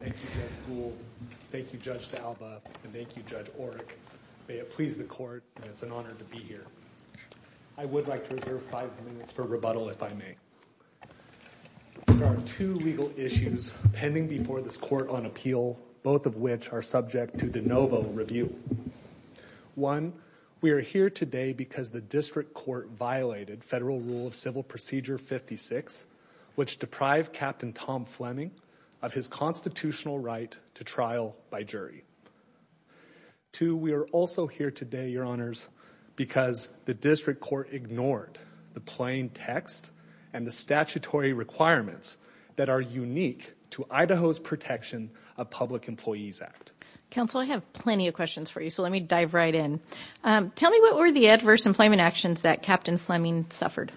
Thank you, Judge Gould, thank you, Judge D'Alba, and thank you, Judge Oreck. May it please the Court, and it's an honor to be here. I would like to reserve five minutes for rebuttal, if I may. There are two legal issues pending before this Court on appeal, both of which are subject to de novo review. One, we are here today because the District Court violated Federal Rule of Civil Procedure 56, which deprived Captain Tom Fleming of his constitutional right to trial by jury. Two, we are also here today, Your Honors, because the District Court ignored the plain text and the statutory requirements that are unique to Idaho's Protection of Public Employees Act. Counsel, I have plenty of questions for you, so let me dive right in. Tell me, what were the adverse employment actions that Captain Fleming suffered?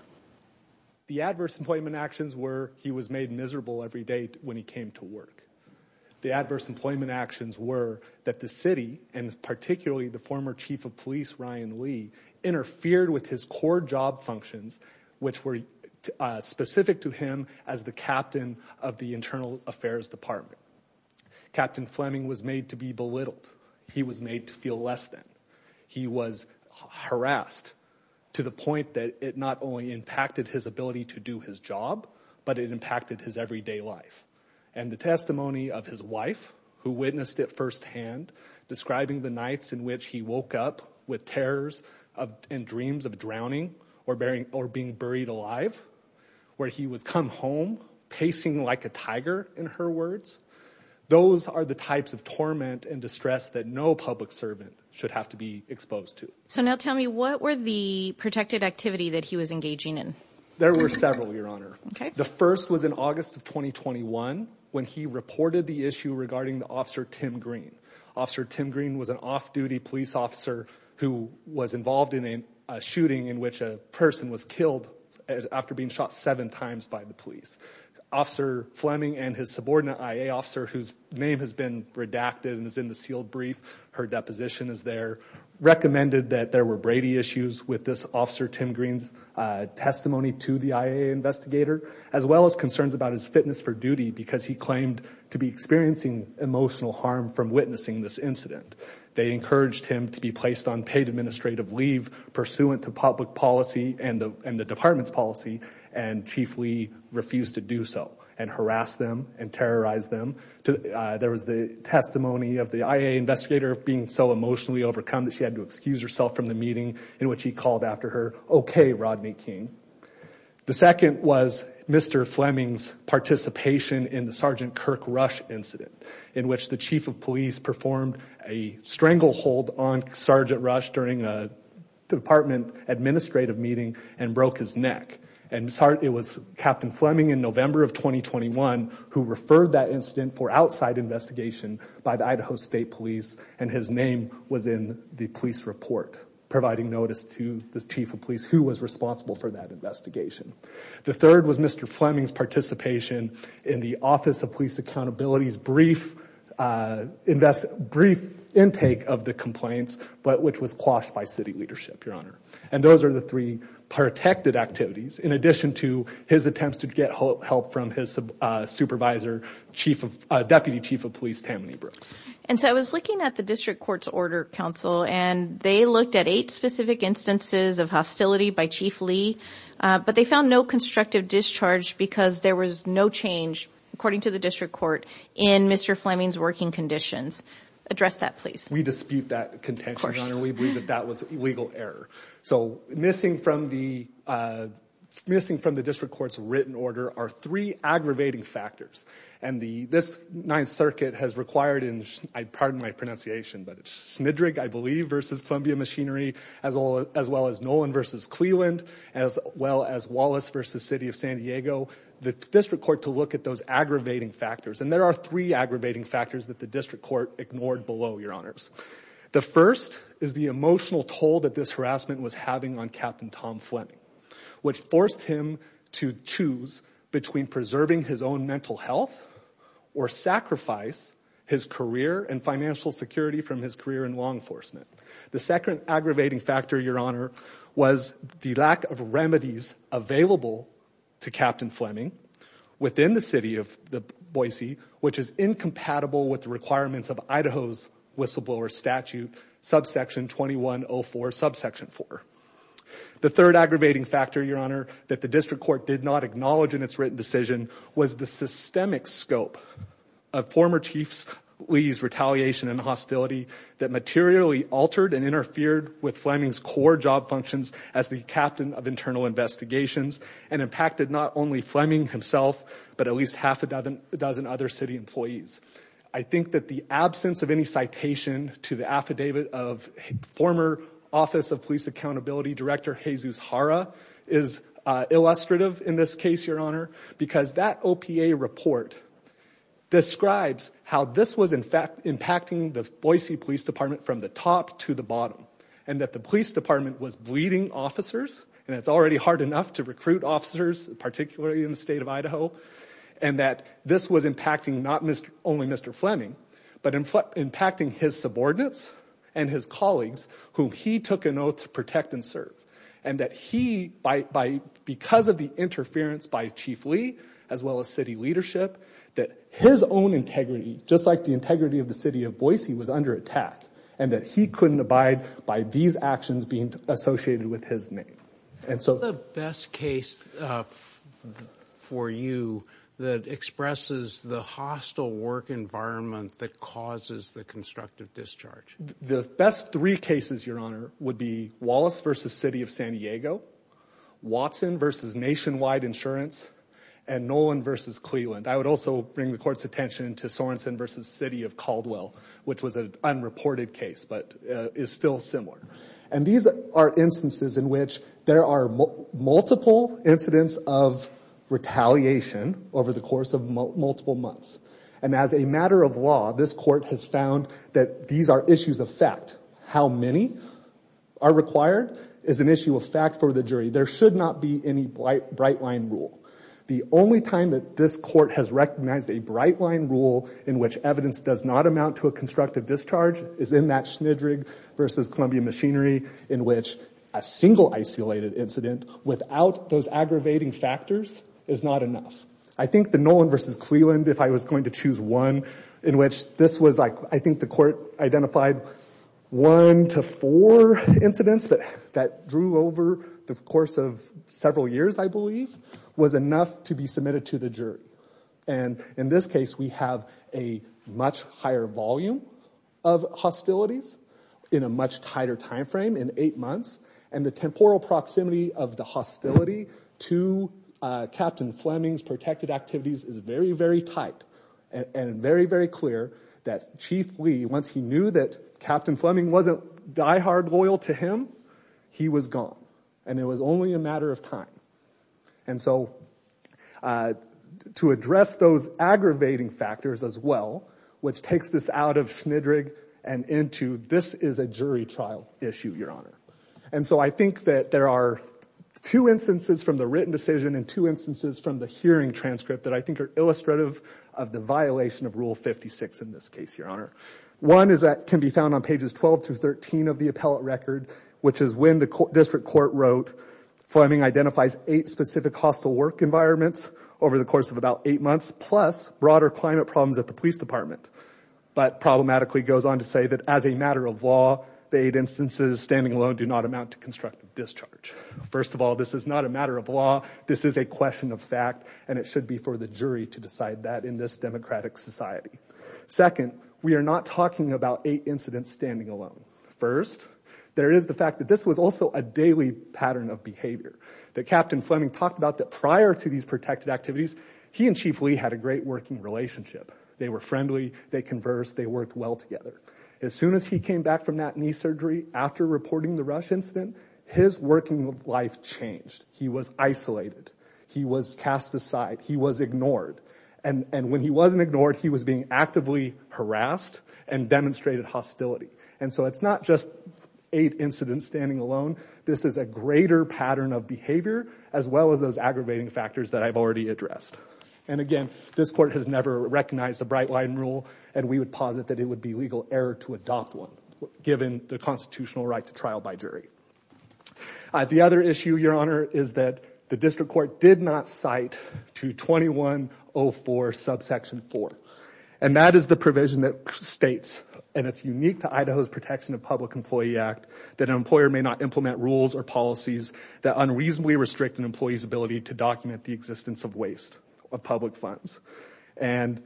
The adverse employment actions were he was made miserable every day when he came to work. The adverse employment actions were that the City, and particularly the former Chief of Police, Ryan Lee, interfered with his core job functions, which were specific to him as the Captain of the Internal Affairs Department. Captain Fleming was made to be belittled. He was made to feel less than. He was harassed to the point that it not only impacted his ability to do his job, but it impacted his everyday life. And the testimony of his wife, who witnessed it firsthand, describing the nights in which he woke up with terrors and dreams of drowning or being buried alive, where he would come home pacing like a tiger, in her words, Those are the types of torment and distress that no public servant should have to be exposed to. So now tell me, what were the protected activity that he was engaging in? There were several, Your Honor. The first was in August of 2021, when he reported the issue regarding Officer Tim Green. Officer Tim Green was an off-duty police officer who was involved in a shooting in which a person was killed after being shot seven times by the police. Officer Fleming and his subordinate IA officer, whose name has been redacted and is in the sealed brief, her deposition is there, recommended that there were Brady issues with this Officer Tim Green's testimony to the IA investigator, as well as concerns about his fitness for duty because he claimed to be experiencing emotional harm from witnessing this incident. They encouraged him to be placed on paid administrative leave pursuant to public policy and the department's policy, and Chief Lee refused to do so and harassed them and terrorized them. There was the testimony of the IA investigator being so emotionally overcome that she had to excuse herself from the meeting in which he called after her, Okay, Rodney King. The second was Mr. Fleming's participation in the Sergeant Kirk Rush incident in which the chief of police performed a stranglehold on Sergeant Rush during a department administrative meeting and broke his neck. It was Captain Fleming in November of 2021 who referred that incident for outside investigation by the Idaho State Police and his name was in the police report, providing notice to the chief of police who was responsible for that investigation. The third was Mr. Fleming's participation in the Office of Police Accountability's brief intake of the complaints, which was quashed by city leadership, Your Honor, and those are the three protected activities in addition to his attempts to get help from his supervisor, Deputy Chief of Police Tammany Brooks. And so I was looking at the District Court's Order Council and they looked at eight specific instances of hostility by Chief Lee, but they found no constructive discharge because there was no change, according to the District Court, in Mr. Fleming's working conditions. Address that, please. We dispute that contention, Your Honor. We believe that that was legal error. So missing from the District Court's written order are three aggravating factors and this Ninth Circuit has required, and I pardon my pronunciation, but Schmidrig, I believe, versus Columbia Machinery, as well as Nolan versus Cleland, as well as Wallace versus City of San Diego, the District Court to look at those aggravating factors. And there are three aggravating factors that the District Court ignored below, Your Honors. The first is the emotional toll that this harassment was having on Captain Tom Fleming, which forced him to choose between preserving his own mental health or sacrifice his career and financial security from his career in law enforcement. The second aggravating factor, Your Honor, was the lack of remedies available to Captain Fleming within the City of Boise, which is incompatible with the requirements of Idaho's whistleblower statute, subsection 2104, subsection 4. The third aggravating factor, Your Honor, that the District Court did not acknowledge in its written decision was the systemic scope of former Chief Lee's retaliation and hostility that materially altered and interfered with Fleming's core job functions as the Captain of Internal Investigations and impacted not only Fleming himself, but at least half a dozen other city employees. I think that the absence of any citation to the affidavit of former Office of Police Accountability Director Jesus Jara is illustrative in this case, Your Honor, because that OPA report describes how this was impacting the Boise Police Department from the top to the bottom and that the police department was bleeding officers, and it's already hard enough to recruit officers, particularly in the state of Idaho, and that this was impacting not only Mr. Fleming, but impacting his subordinates and his colleagues whom he took an oath to protect and serve. And that he, because of the interference by Chief Lee, as well as city leadership, that his own integrity, just like the integrity of the City of Boise, was under attack and that he couldn't abide by these actions being associated with his name. What's the best case for you that expresses the hostile work environment that causes the constructive discharge? The best three cases, Your Honor, would be Wallace v. City of San Diego, Watson v. Nationwide Insurance, and Nolan v. Cleland. I would also bring the Court's attention to Sorenson v. City of Caldwell, which was an unreported case, but is still similar. And these are instances in which there are multiple incidents of retaliation over the course of multiple months. And as a matter of law, this Court has found that these are issues of fact. How many are required is an issue of fact for the jury. There should not be any bright line rule. The only time that this Court has recognized a bright line rule in which evidence does not amount to a constructive discharge is in that Schnidrig v. Columbia Machinery, in which a single isolated incident without those aggravating factors is not enough. I think the Nolan v. Cleland, if I was going to choose one, in which this was, I think the Court identified one to four incidents that drew over the course of several years, I believe, was enough to be submitted to the jury. And in this case, we have a much higher volume of hostilities in a much tighter time frame, in eight months. And the temporal proximity of the hostility to Captain Fleming's protected activities is very, very tight and very, very clear that Chief Lee, once he knew that Captain Fleming wasn't diehard loyal to him, he was gone. And it was only a matter of time. And so to address those aggravating factors as well, which takes this out of Schnidrig and into this is a jury trial issue, Your Honor. And so I think that there are two instances from the written decision and two instances from the hearing transcript that I think are illustrative of the violation of Rule 56 in this case, Your Honor. One is that can be found on pages 12 through 13 of the appellate record, which is when the district court wrote, Fleming identifies eight specific hostile work environments over the course of about eight months, plus broader climate problems at the police department, but problematically goes on to say that as a matter of law, the eight instances standing alone do not amount to constructive discharge. First of all, this is not a matter of law. This is a question of fact, and it should be for the jury to decide that in this democratic society. Second, we are not talking about eight incidents standing alone. First, there is the fact that this was also a daily pattern of behavior. That Captain Fleming talked about that prior to these protected activities, he and Chief Lee had a great working relationship. They were friendly. They conversed. They worked well together. As soon as he came back from that knee surgery, after reporting the rush incident, his working life changed. He was isolated. He was cast aside. He was ignored. And when he wasn't ignored, he was being actively harassed and demonstrated hostility. And so it's not just eight incidents standing alone. This is a greater pattern of behavior, as well as those aggravating factors that I've already addressed. And again, this court has never recognized the Bright Line rule, and we would posit that it would be legal error to adopt one, given the constitutional right to trial by jury. The other issue, Your Honor, is that the district court did not cite to 2104, subsection 4. And that is the provision that states, and it's unique to Idaho's Protection of Public Employee Act, that an employer may not implement rules or policies that unreasonably restrict an employee's ability to document the existence of waste of public funds. And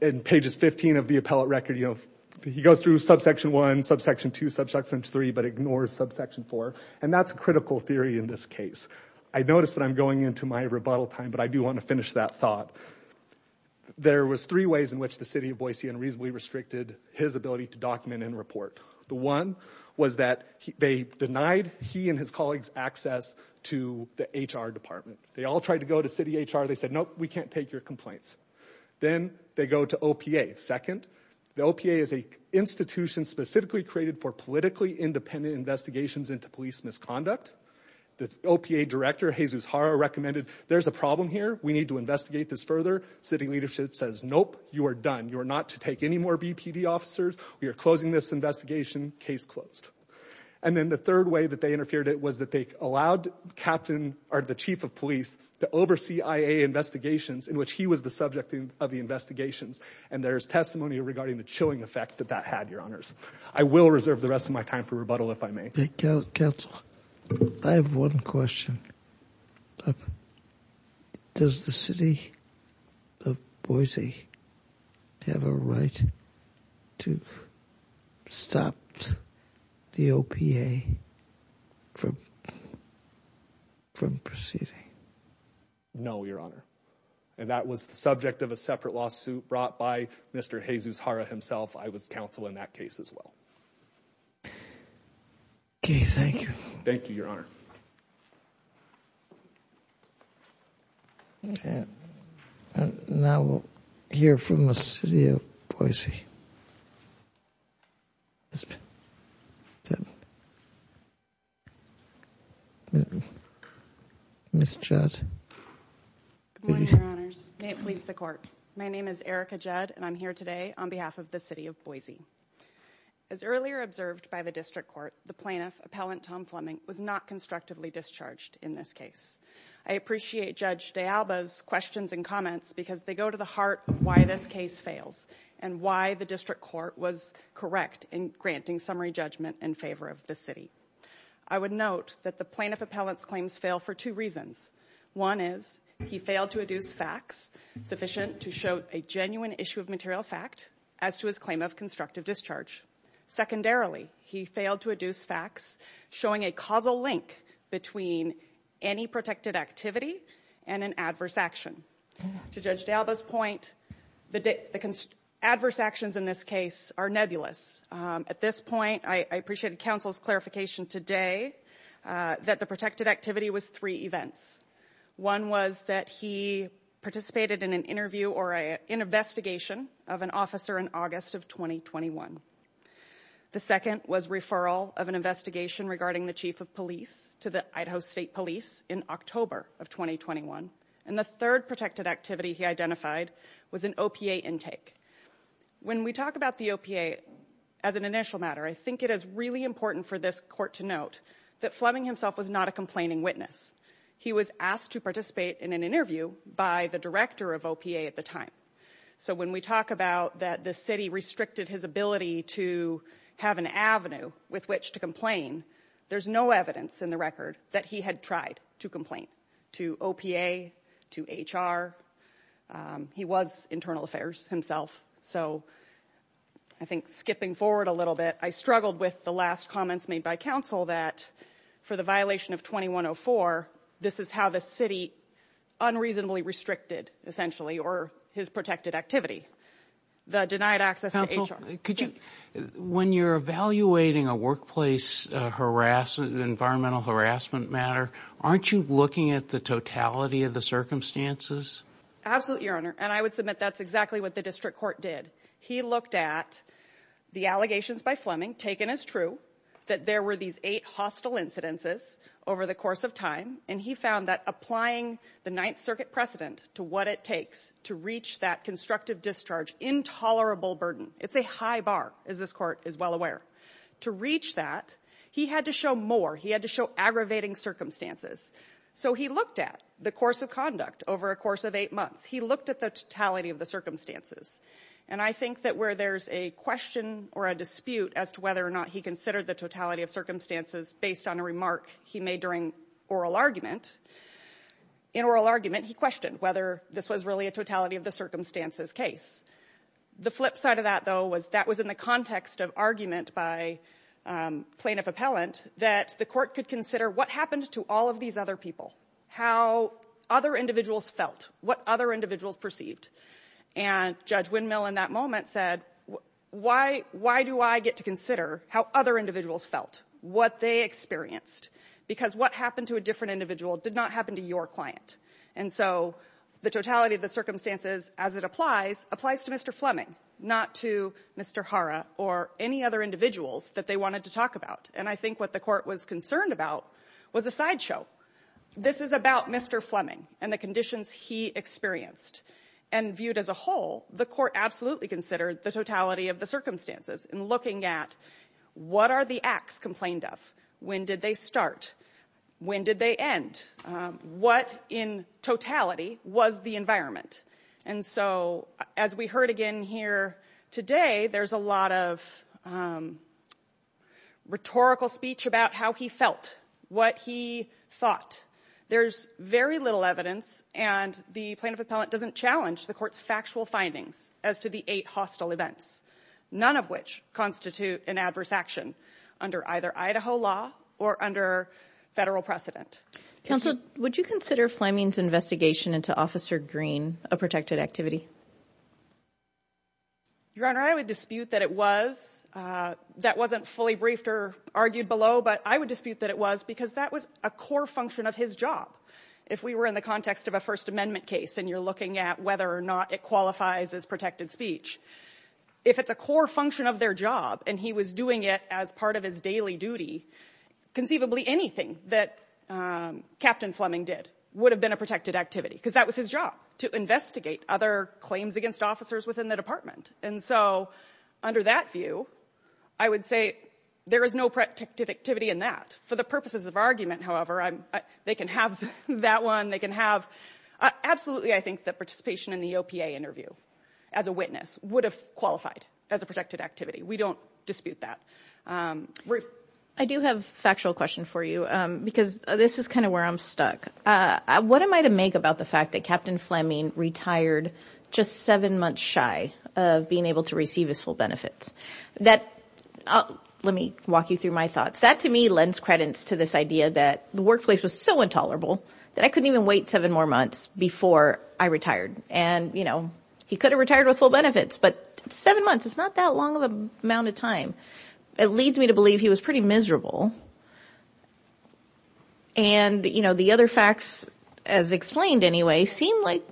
in pages 15 of the appellate record, you know, he goes through subsection 1, subsection 2, subsection 3, but ignores subsection 4. And that's a critical theory in this case. I notice that I'm going into my rebuttal time, but I do want to finish that thought. There was three ways in which the city of Boise unreasonably restricted his ability to document and report. The one was that they denied he and his colleagues access to the HR department. They all tried to go to city HR. They said, nope, we can't take your complaints. Then they go to OPA. Second, the OPA is an institution specifically created for politically independent investigations into police misconduct. The OPA director, Jesus Hara, recommended, there's a problem here. We need to investigate this further. City leadership says, nope, you are done. You are not to take any more BPD officers. We are closing this investigation. Case closed. And then the third way that they interfered was that they allowed the chief of police to oversee IA investigations in which he was the subject of the investigations. And there's testimony regarding the chilling effect that that had, Your Honors. I will reserve the rest of my time for rebuttal if I may. Counsel, I have one question. Does the city of Boise have a right to stop the OPA from proceeding? No, Your Honor. And that was the subject of a separate lawsuit brought by Mr. Jesus Hara himself. I was counsel in that case as well. Okay, thank you. Thank you, Your Honor. And now we'll hear from the city of Boise. Ms. Judd. Good morning, Your Honors. May it please the Court. My name is Erica Judd, and I'm here today on behalf of the city of Boise. As earlier observed by the district court, the plaintiff, appellant Tom Fleming, was not constructively discharged in this case. I appreciate Judge DeAlba's questions and comments because they go to the heart of why this case fails and why the district court was correct in granting summary judgment in favor of the city. I would note that the plaintiff appellant's claims fail for two reasons. One is he failed to adduce facts sufficient to show a genuine issue of material fact as to his claim of constructive discharge. Secondarily, he failed to adduce facts showing a causal link between any protected activity and an adverse action. To Judge DeAlba's point, the adverse actions in this case are nebulous. At this point, I appreciate counsel's clarification today that the protected activity was three events. One was that he participated in an interview or an investigation of an officer in August of 2021. The second was referral of an investigation regarding the chief of police to the Idaho State Police in October of 2021. And the third protected activity he identified was an OPA intake. When we talk about the OPA as an initial matter, I think it is really important for this court to note that Fleming himself was not a complaining witness. He was asked to participate in an interview by the director of OPA at the time. So when we talk about that the city restricted his ability to have an avenue with which to complain, there's no evidence in the record that he had tried to complain to OPA, to HR. He was internal affairs himself. So I think skipping forward a little bit, I struggled with the last comments made by counsel that for the violation of 2104, this is how the city unreasonably restricted, essentially, or his protected activity, the denied access to HR. When you're evaluating a workplace harassment, environmental harassment matter, aren't you looking at the totality of the circumstances? Absolutely, Your Honor. And I would submit that's exactly what the district court did. He looked at the allegations by Fleming, taken as true, that there were these eight hostile incidences over the course of time. And he found that applying the Ninth Circuit precedent to what it takes to reach that constructive discharge, intolerable burden, it's a high bar, as this court is well aware. To reach that, he had to show more. He had to show aggravating circumstances. So he looked at the course of conduct over a course of eight months. He looked at the totality of the circumstances. And I think that where there's a question or a dispute as to whether or not he considered the totality of circumstances based on a remark he made during oral argument, in oral argument he questioned whether this was really a totality of the circumstances case. The flip side of that, though, was that was in the context of argument by plaintiff appellant that the court could consider what happened to all of these other people, how other individuals felt, what other individuals perceived. And Judge Windmill in that moment said, why do I get to consider how other individuals felt, what they experienced? Because what happened to a different individual did not happen to your client. And so the totality of the circumstances, as it applies, applies to Mr. Fleming, not to Mr. Hara or any other individuals that they wanted to talk about. And I think what the court was concerned about was a sideshow. This is about Mr. Fleming and the conditions he experienced. And viewed as a whole, the court absolutely considered the totality of the circumstances in looking at what are the acts complained of, when did they start, when did they end, what in totality was the environment. And so as we heard again here today, there's a lot of rhetorical speech about how he felt, what he thought. There's very little evidence and the plaintiff appellant doesn't challenge the court's factual findings as to the eight hostile events, none of which constitute an adverse action under either Idaho law or under federal precedent. Counsel, would you consider Fleming's investigation into Officer Green a protected activity? Your Honor, I would dispute that it was. That wasn't fully briefed or argued below, but I would dispute that it was because that was a core function of his job. If we were in the context of a First Amendment case and you're looking at whether or not it qualifies as protected speech, if it's a core function of their job and he was doing it as part of his daily duty, conceivably anything that Captain Fleming did would have been a protected activity because that was his job, to investigate other claims against officers within the department. And so under that view, I would say there is no protected activity in that. For the purposes of argument, however, they can have that one, they can have – absolutely I think that participation in the OPA interview as a witness would have qualified as a protected activity. We don't dispute that. I do have a factual question for you because this is kind of where I'm stuck. What am I to make about the fact that Captain Fleming retired just seven months shy of being able to receive his full benefits? That – let me walk you through my thoughts. That to me lends credence to this idea that the workplace was so intolerable that I couldn't even wait seven more months before I retired. And, you know, he could have retired with full benefits, but seven months is not that long of an amount of time. It leads me to believe he was pretty miserable. And, you know, the other facts, as explained anyway, seem like,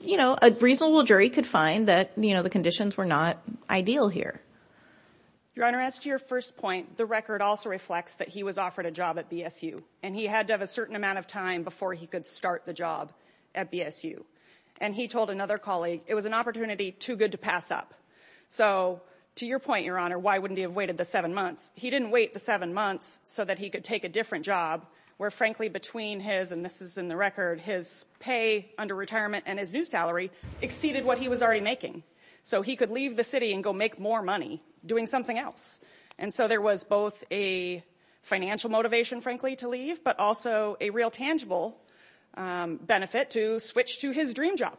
you know, a reasonable jury could find that, you know, the conditions were not ideal here. Your Honor, as to your first point, the record also reflects that he was offered a job at BSU, and he had to have a certain amount of time before he could start the job at BSU. And he told another colleague, it was an opportunity too good to pass up. So to your point, Your Honor, why wouldn't he have waited the seven months? He didn't wait the seven months so that he could take a different job, where frankly between his – and this is in the record – his pay under retirement and his new salary exceeded what he was already making. So he could leave the city and go make more money doing something else. And so there was both a financial motivation, frankly, to leave, but also a real tangible benefit to switch to his dream job.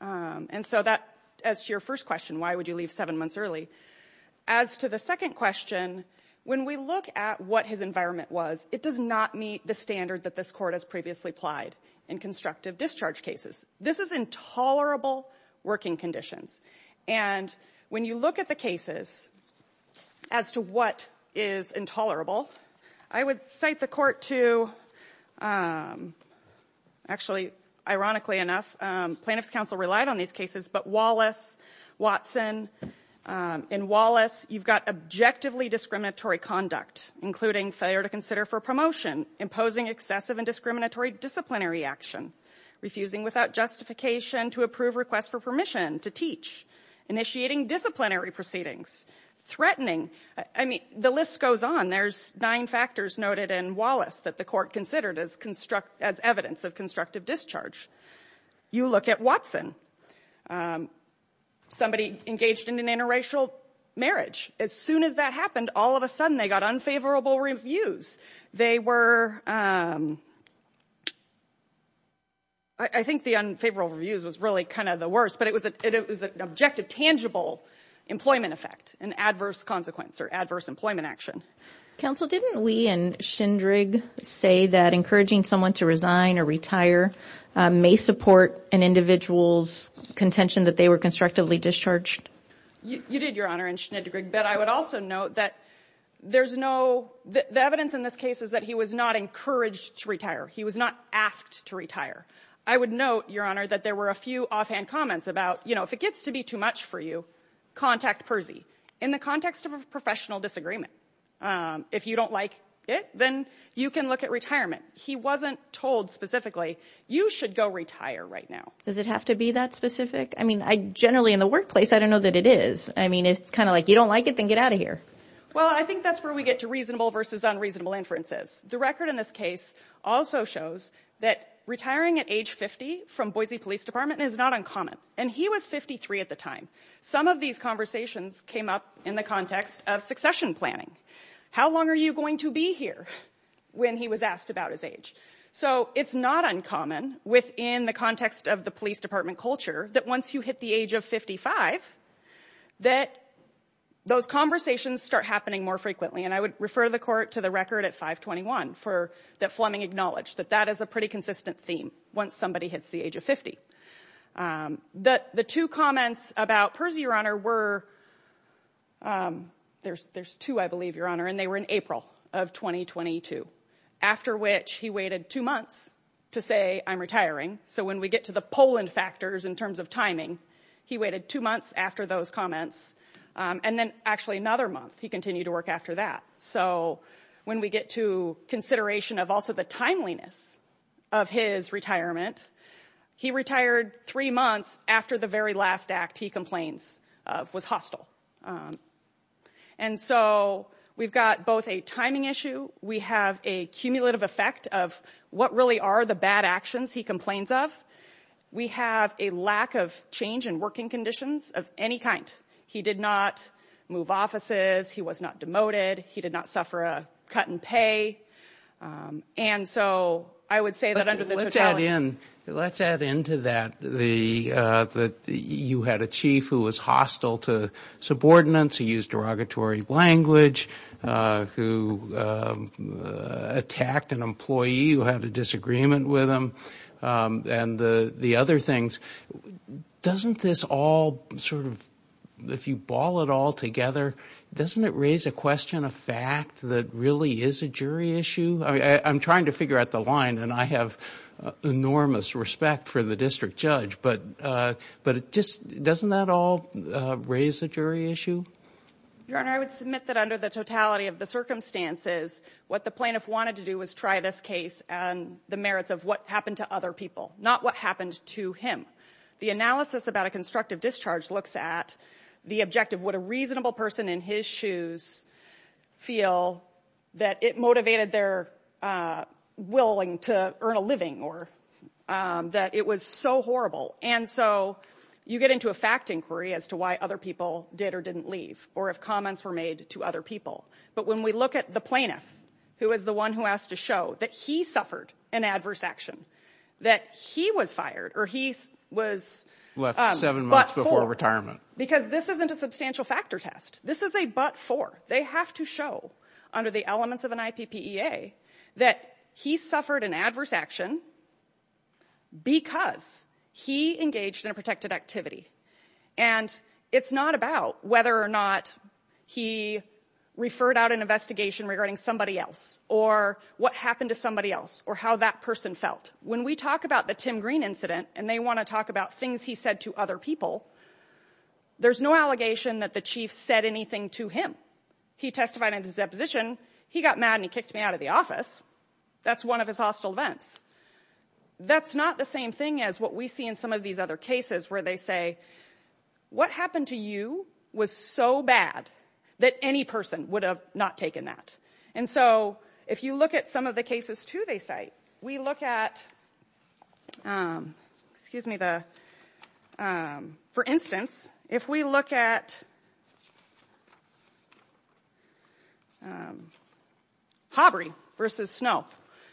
And so that – as to your first question, why would you leave seven months early, as to the second question, when we look at what his environment was, it does not meet the standard that this Court has previously applied in constructive discharge cases. This is intolerable working conditions. And when you look at the cases as to what is intolerable, I would cite the Court to – actually, ironically enough, plaintiff's counsel relied on these cases, but Wallace, Watson. In Wallace, you've got objectively discriminatory conduct, including failure to consider for promotion, imposing excessive and discriminatory disciplinary action, refusing without justification to approve requests for permission to teach, initiating disciplinary proceedings, threatening – I mean, the list goes on. And there's nine factors noted in Wallace that the Court considered as evidence of constructive discharge. You look at Watson. Somebody engaged in an interracial marriage. As soon as that happened, all of a sudden they got unfavorable reviews. They were – I think the unfavorable reviews was really kind of the worst, but it was an objective, tangible employment effect, an adverse consequence or adverse employment action. Counsel, didn't we in Schindrig say that encouraging someone to resign or retire may support an individual's contention that they were constructively discharged? You did, Your Honor, in Schindrig, but I would also note that there's no – the evidence in this case is that he was not encouraged to retire. He was not asked to retire. I would note, Your Honor, that there were a few offhand comments about, you know, if it gets to be too much for you, contact Percy in the context of a professional disagreement. If you don't like it, then you can look at retirement. He wasn't told specifically you should go retire right now. Does it have to be that specific? I mean, generally in the workplace, I don't know that it is. I mean, it's kind of like you don't like it, then get out of here. Well, I think that's where we get to reasonable versus unreasonable inferences. The record in this case also shows that retiring at age 50 from Boise Police Department is not uncommon. And he was 53 at the time. Some of these conversations came up in the context of succession planning. How long are you going to be here when he was asked about his age? So it's not uncommon within the context of the police department culture that once you hit the age of 55 that those conversations start happening more frequently. And I would refer the court to the record at 521 for that Fleming acknowledged that that is a pretty consistent theme once somebody hits the age of 50. The two comments about Percy, Your Honor, were, there's two, I believe, Your Honor, and they were in April of 2022, after which he waited two months to say, I'm retiring. So when we get to the Poland factors in terms of timing, he waited two months after those comments. And then actually another month he continued to work after that. So when we get to consideration of also the timeliness of his retirement, he retired three months after the very last act he complains of was hostile. And so we've got both a timing issue. We have a cumulative effect of what really are the bad actions he complains of. We have a lack of change in working conditions of any kind. He did not move offices. He was not demoted. He did not suffer a cut in pay. And so I would say that under the totality. Let's add in to that that you had a chief who was hostile to subordinates, who used derogatory language, who attacked an employee who had a disagreement with him, and the other things. Doesn't this all sort of, if you ball it all together, doesn't it raise a question of fact that really is a jury issue? I'm trying to figure out the line, and I have enormous respect for the district judge. But just doesn't that all raise a jury issue? Your Honor, I would submit that under the totality of the circumstances, what the plaintiff wanted to do was try this case and the merits of what happened to other people, not what happened to him. The analysis about a constructive discharge looks at the objective. Would a reasonable person in his shoes feel that it motivated their willing to earn a living or that it was so horrible? And so you get into a fact inquiry as to why other people did or didn't leave or if comments were made to other people. But when we look at the plaintiff, who is the one who has to show that he suffered an adverse action, that he was fired or he was but for, because this isn't a substantial factor test. This is a but for. They have to show under the elements of an IPPEA that he suffered an adverse action because he engaged in a protected activity. And it's not about whether or not he referred out an investigation regarding somebody else or what happened to somebody else or how that person felt. When we talk about the Tim Green incident and they want to talk about things he said to other people, there's no allegation that the chief said anything to him. He testified in his deposition, he got mad and he kicked me out of the office. That's one of his hostile events. That's not the same thing as what we see in some of these other cases where they say, what happened to you was so bad that any person would have not taken that. And so if you look at some of the cases, too, they cite, we look at, for instance, if we look at Hobry versus Snow,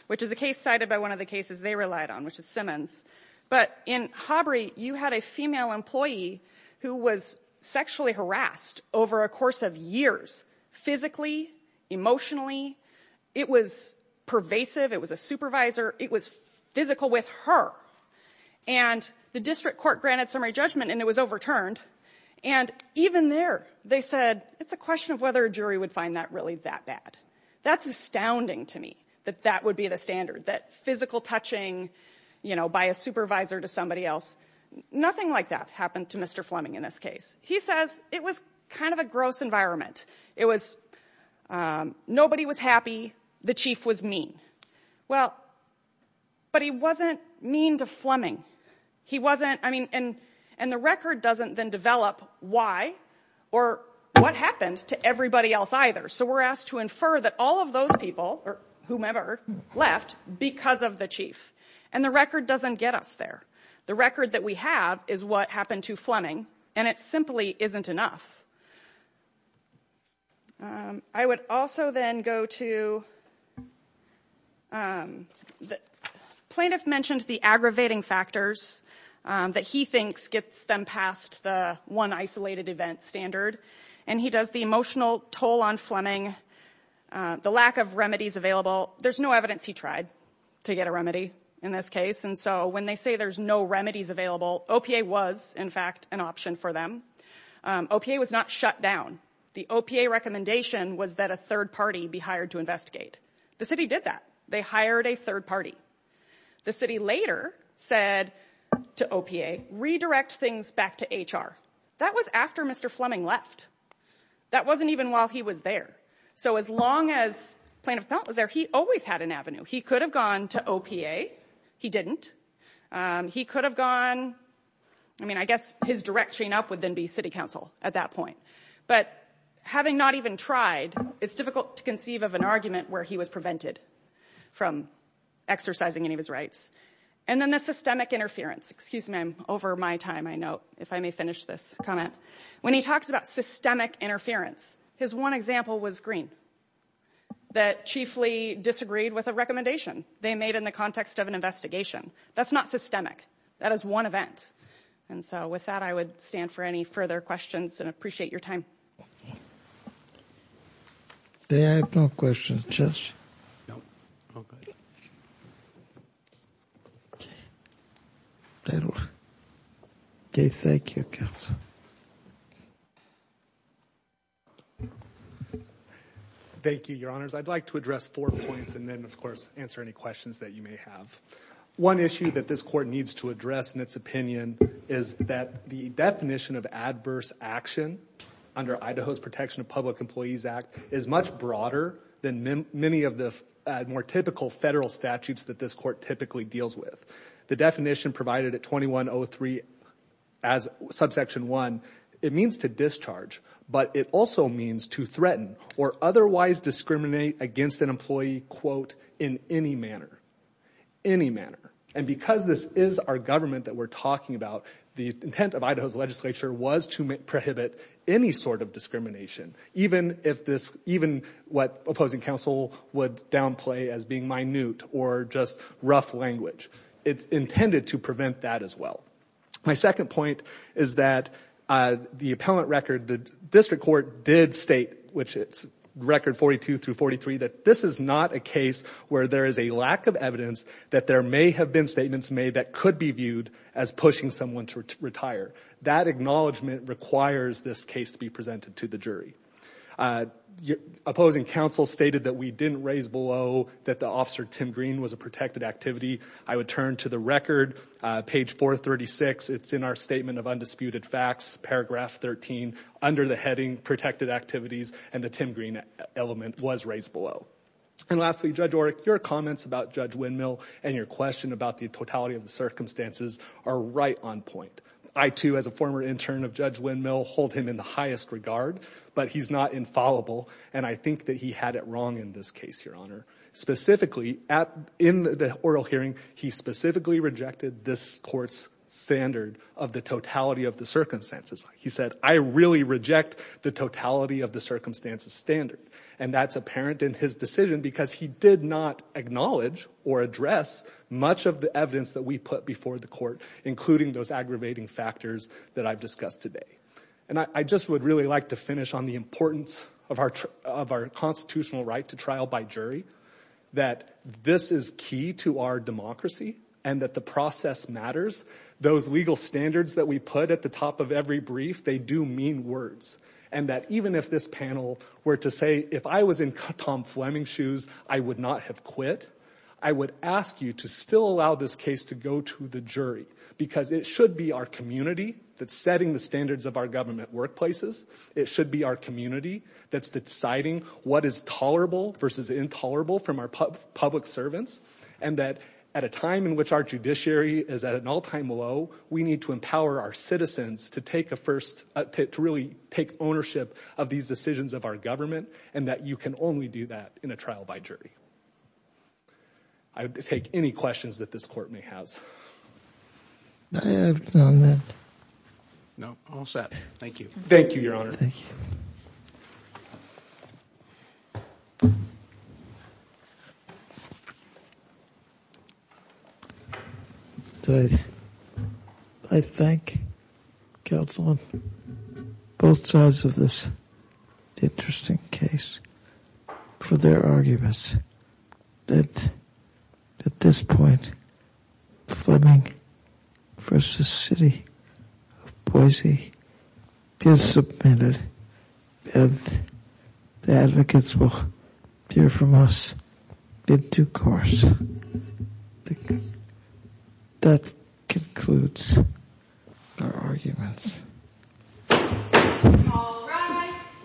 which is a case cited by one of the cases they relied on, which is Simmons, but in Hobry you had a female employee who was sexually harassed over a course of years, physically, emotionally. It was pervasive. It was a supervisor. It was physical with her. And the district court granted summary judgment and it was overturned. And even there they said it's a question of whether a jury would find that really that bad. That's astounding to me that that would be the standard, that physical touching, you know, by a supervisor to somebody else. Nothing like that happened to Mr. Fleming in this case. He says it was kind of a gross environment. It was nobody was happy, the chief was mean. Well, but he wasn't mean to Fleming. He wasn't, I mean, and the record doesn't then develop why or what happened to everybody else either. So we're asked to infer that all of those people, or whomever, left because of the chief. And the record doesn't get us there. The record that we have is what happened to Fleming, and it simply isn't enough. I would also then go to the plaintiff mentioned the aggravating factors that he thinks gets them past the one isolated event standard. And he does the emotional toll on Fleming, the lack of remedies available. There's no evidence he tried to get a remedy in this case. And so when they say there's no remedies available, OPA was, in fact, an option for them. OPA was not shut down. The OPA recommendation was that a third party be hired to investigate. The city did that. They hired a third party. The city later said to OPA, redirect things back to HR. That was after Mr. Fleming left. That wasn't even while he was there. So as long as plaintiff felt was there, he always had an avenue. He could have gone to OPA. He didn't. He could have gone. I mean, I guess his direct chain up would then be city council at that point. But having not even tried, it's difficult to conceive of an argument where he was prevented from exercising any of his rights. And then the systemic interference. Excuse me, I'm over my time, I know, if I may finish this comment. When he talks about systemic interference, his one example was Green that chiefly disagreed with a recommendation they made in the context of an investigation. That's not systemic. That is one event. And so with that, I would stand for any further questions and appreciate your time. I have no questions. Okay. Okay, thank you, counsel. Thank you, Your Honors. I'd like to address four points and then, of course, answer any questions that you may have. One issue that this court needs to address in its opinion is that the definition of adverse action under Idaho's Protection of Public Employees Act is much broader than many of the more typical federal statutes that this court typically deals with. The definition provided at 2103 as subsection 1, it means to discharge, but it also means to threaten or otherwise discriminate against an employee, quote, in any manner, any manner. And because this is our government that we're talking about, the intent of Idaho's legislature was to prohibit any sort of discrimination, even what opposing counsel would downplay as being minute or just rough language. It's intended to prevent that as well. My second point is that the appellant record, the district court did state, which is record 42 through 43, that this is not a case where there is a lack of evidence that there may have been statements made that could be viewed as pushing someone to retire. That acknowledgment requires this case to be presented to the jury. Opposing counsel stated that we didn't raise below that the officer, Tim Green, was a protected activity. I would turn to the record, page 436. It's in our Statement of Undisputed Facts, paragraph 13, under the heading protected activities, and the Tim Green element was raised below. And lastly, Judge Orrick, your comments about Judge Windmill and your question about the totality of the circumstances are right on point. I, too, as a former intern of Judge Windmill, hold him in the highest regard, but he's not infallible, and I think that he had it wrong in this case, Your Honor. Specifically, in the oral hearing, he specifically rejected this court's standard of the totality of the circumstances. He said, I really reject the totality of the circumstances standard, and that's apparent in his decision because he did not acknowledge or address much of the evidence that we put before the court, including those aggravating factors that I've discussed today. And I just would really like to finish on the importance of our constitutional right to trial by jury, that this is key to our democracy, and that the process matters. Those legal standards that we put at the top of every brief, they do mean words, and that even if this panel were to say, if I was in Tom Fleming's shoes, I would not have quit, I would ask you to still allow this case to go to the jury because it should be our community that's setting the standards of our government workplaces. It should be our community that's deciding what is tolerable versus intolerable from our public servants, and that at a time in which our judiciary is at an all-time low, we need to empower our citizens to take a first, to really take ownership of these decisions of our government, and that you can only do that in a trial by jury. I would take any questions that this court may have. No, all set. Thank you. Thank you, Your Honor. I thank counsel on both sides of this interesting case for their arguments that at this point, Fleming v. City of Boise is submitted, and the advocates will hear from us in due course. That concludes our arguments. All rise.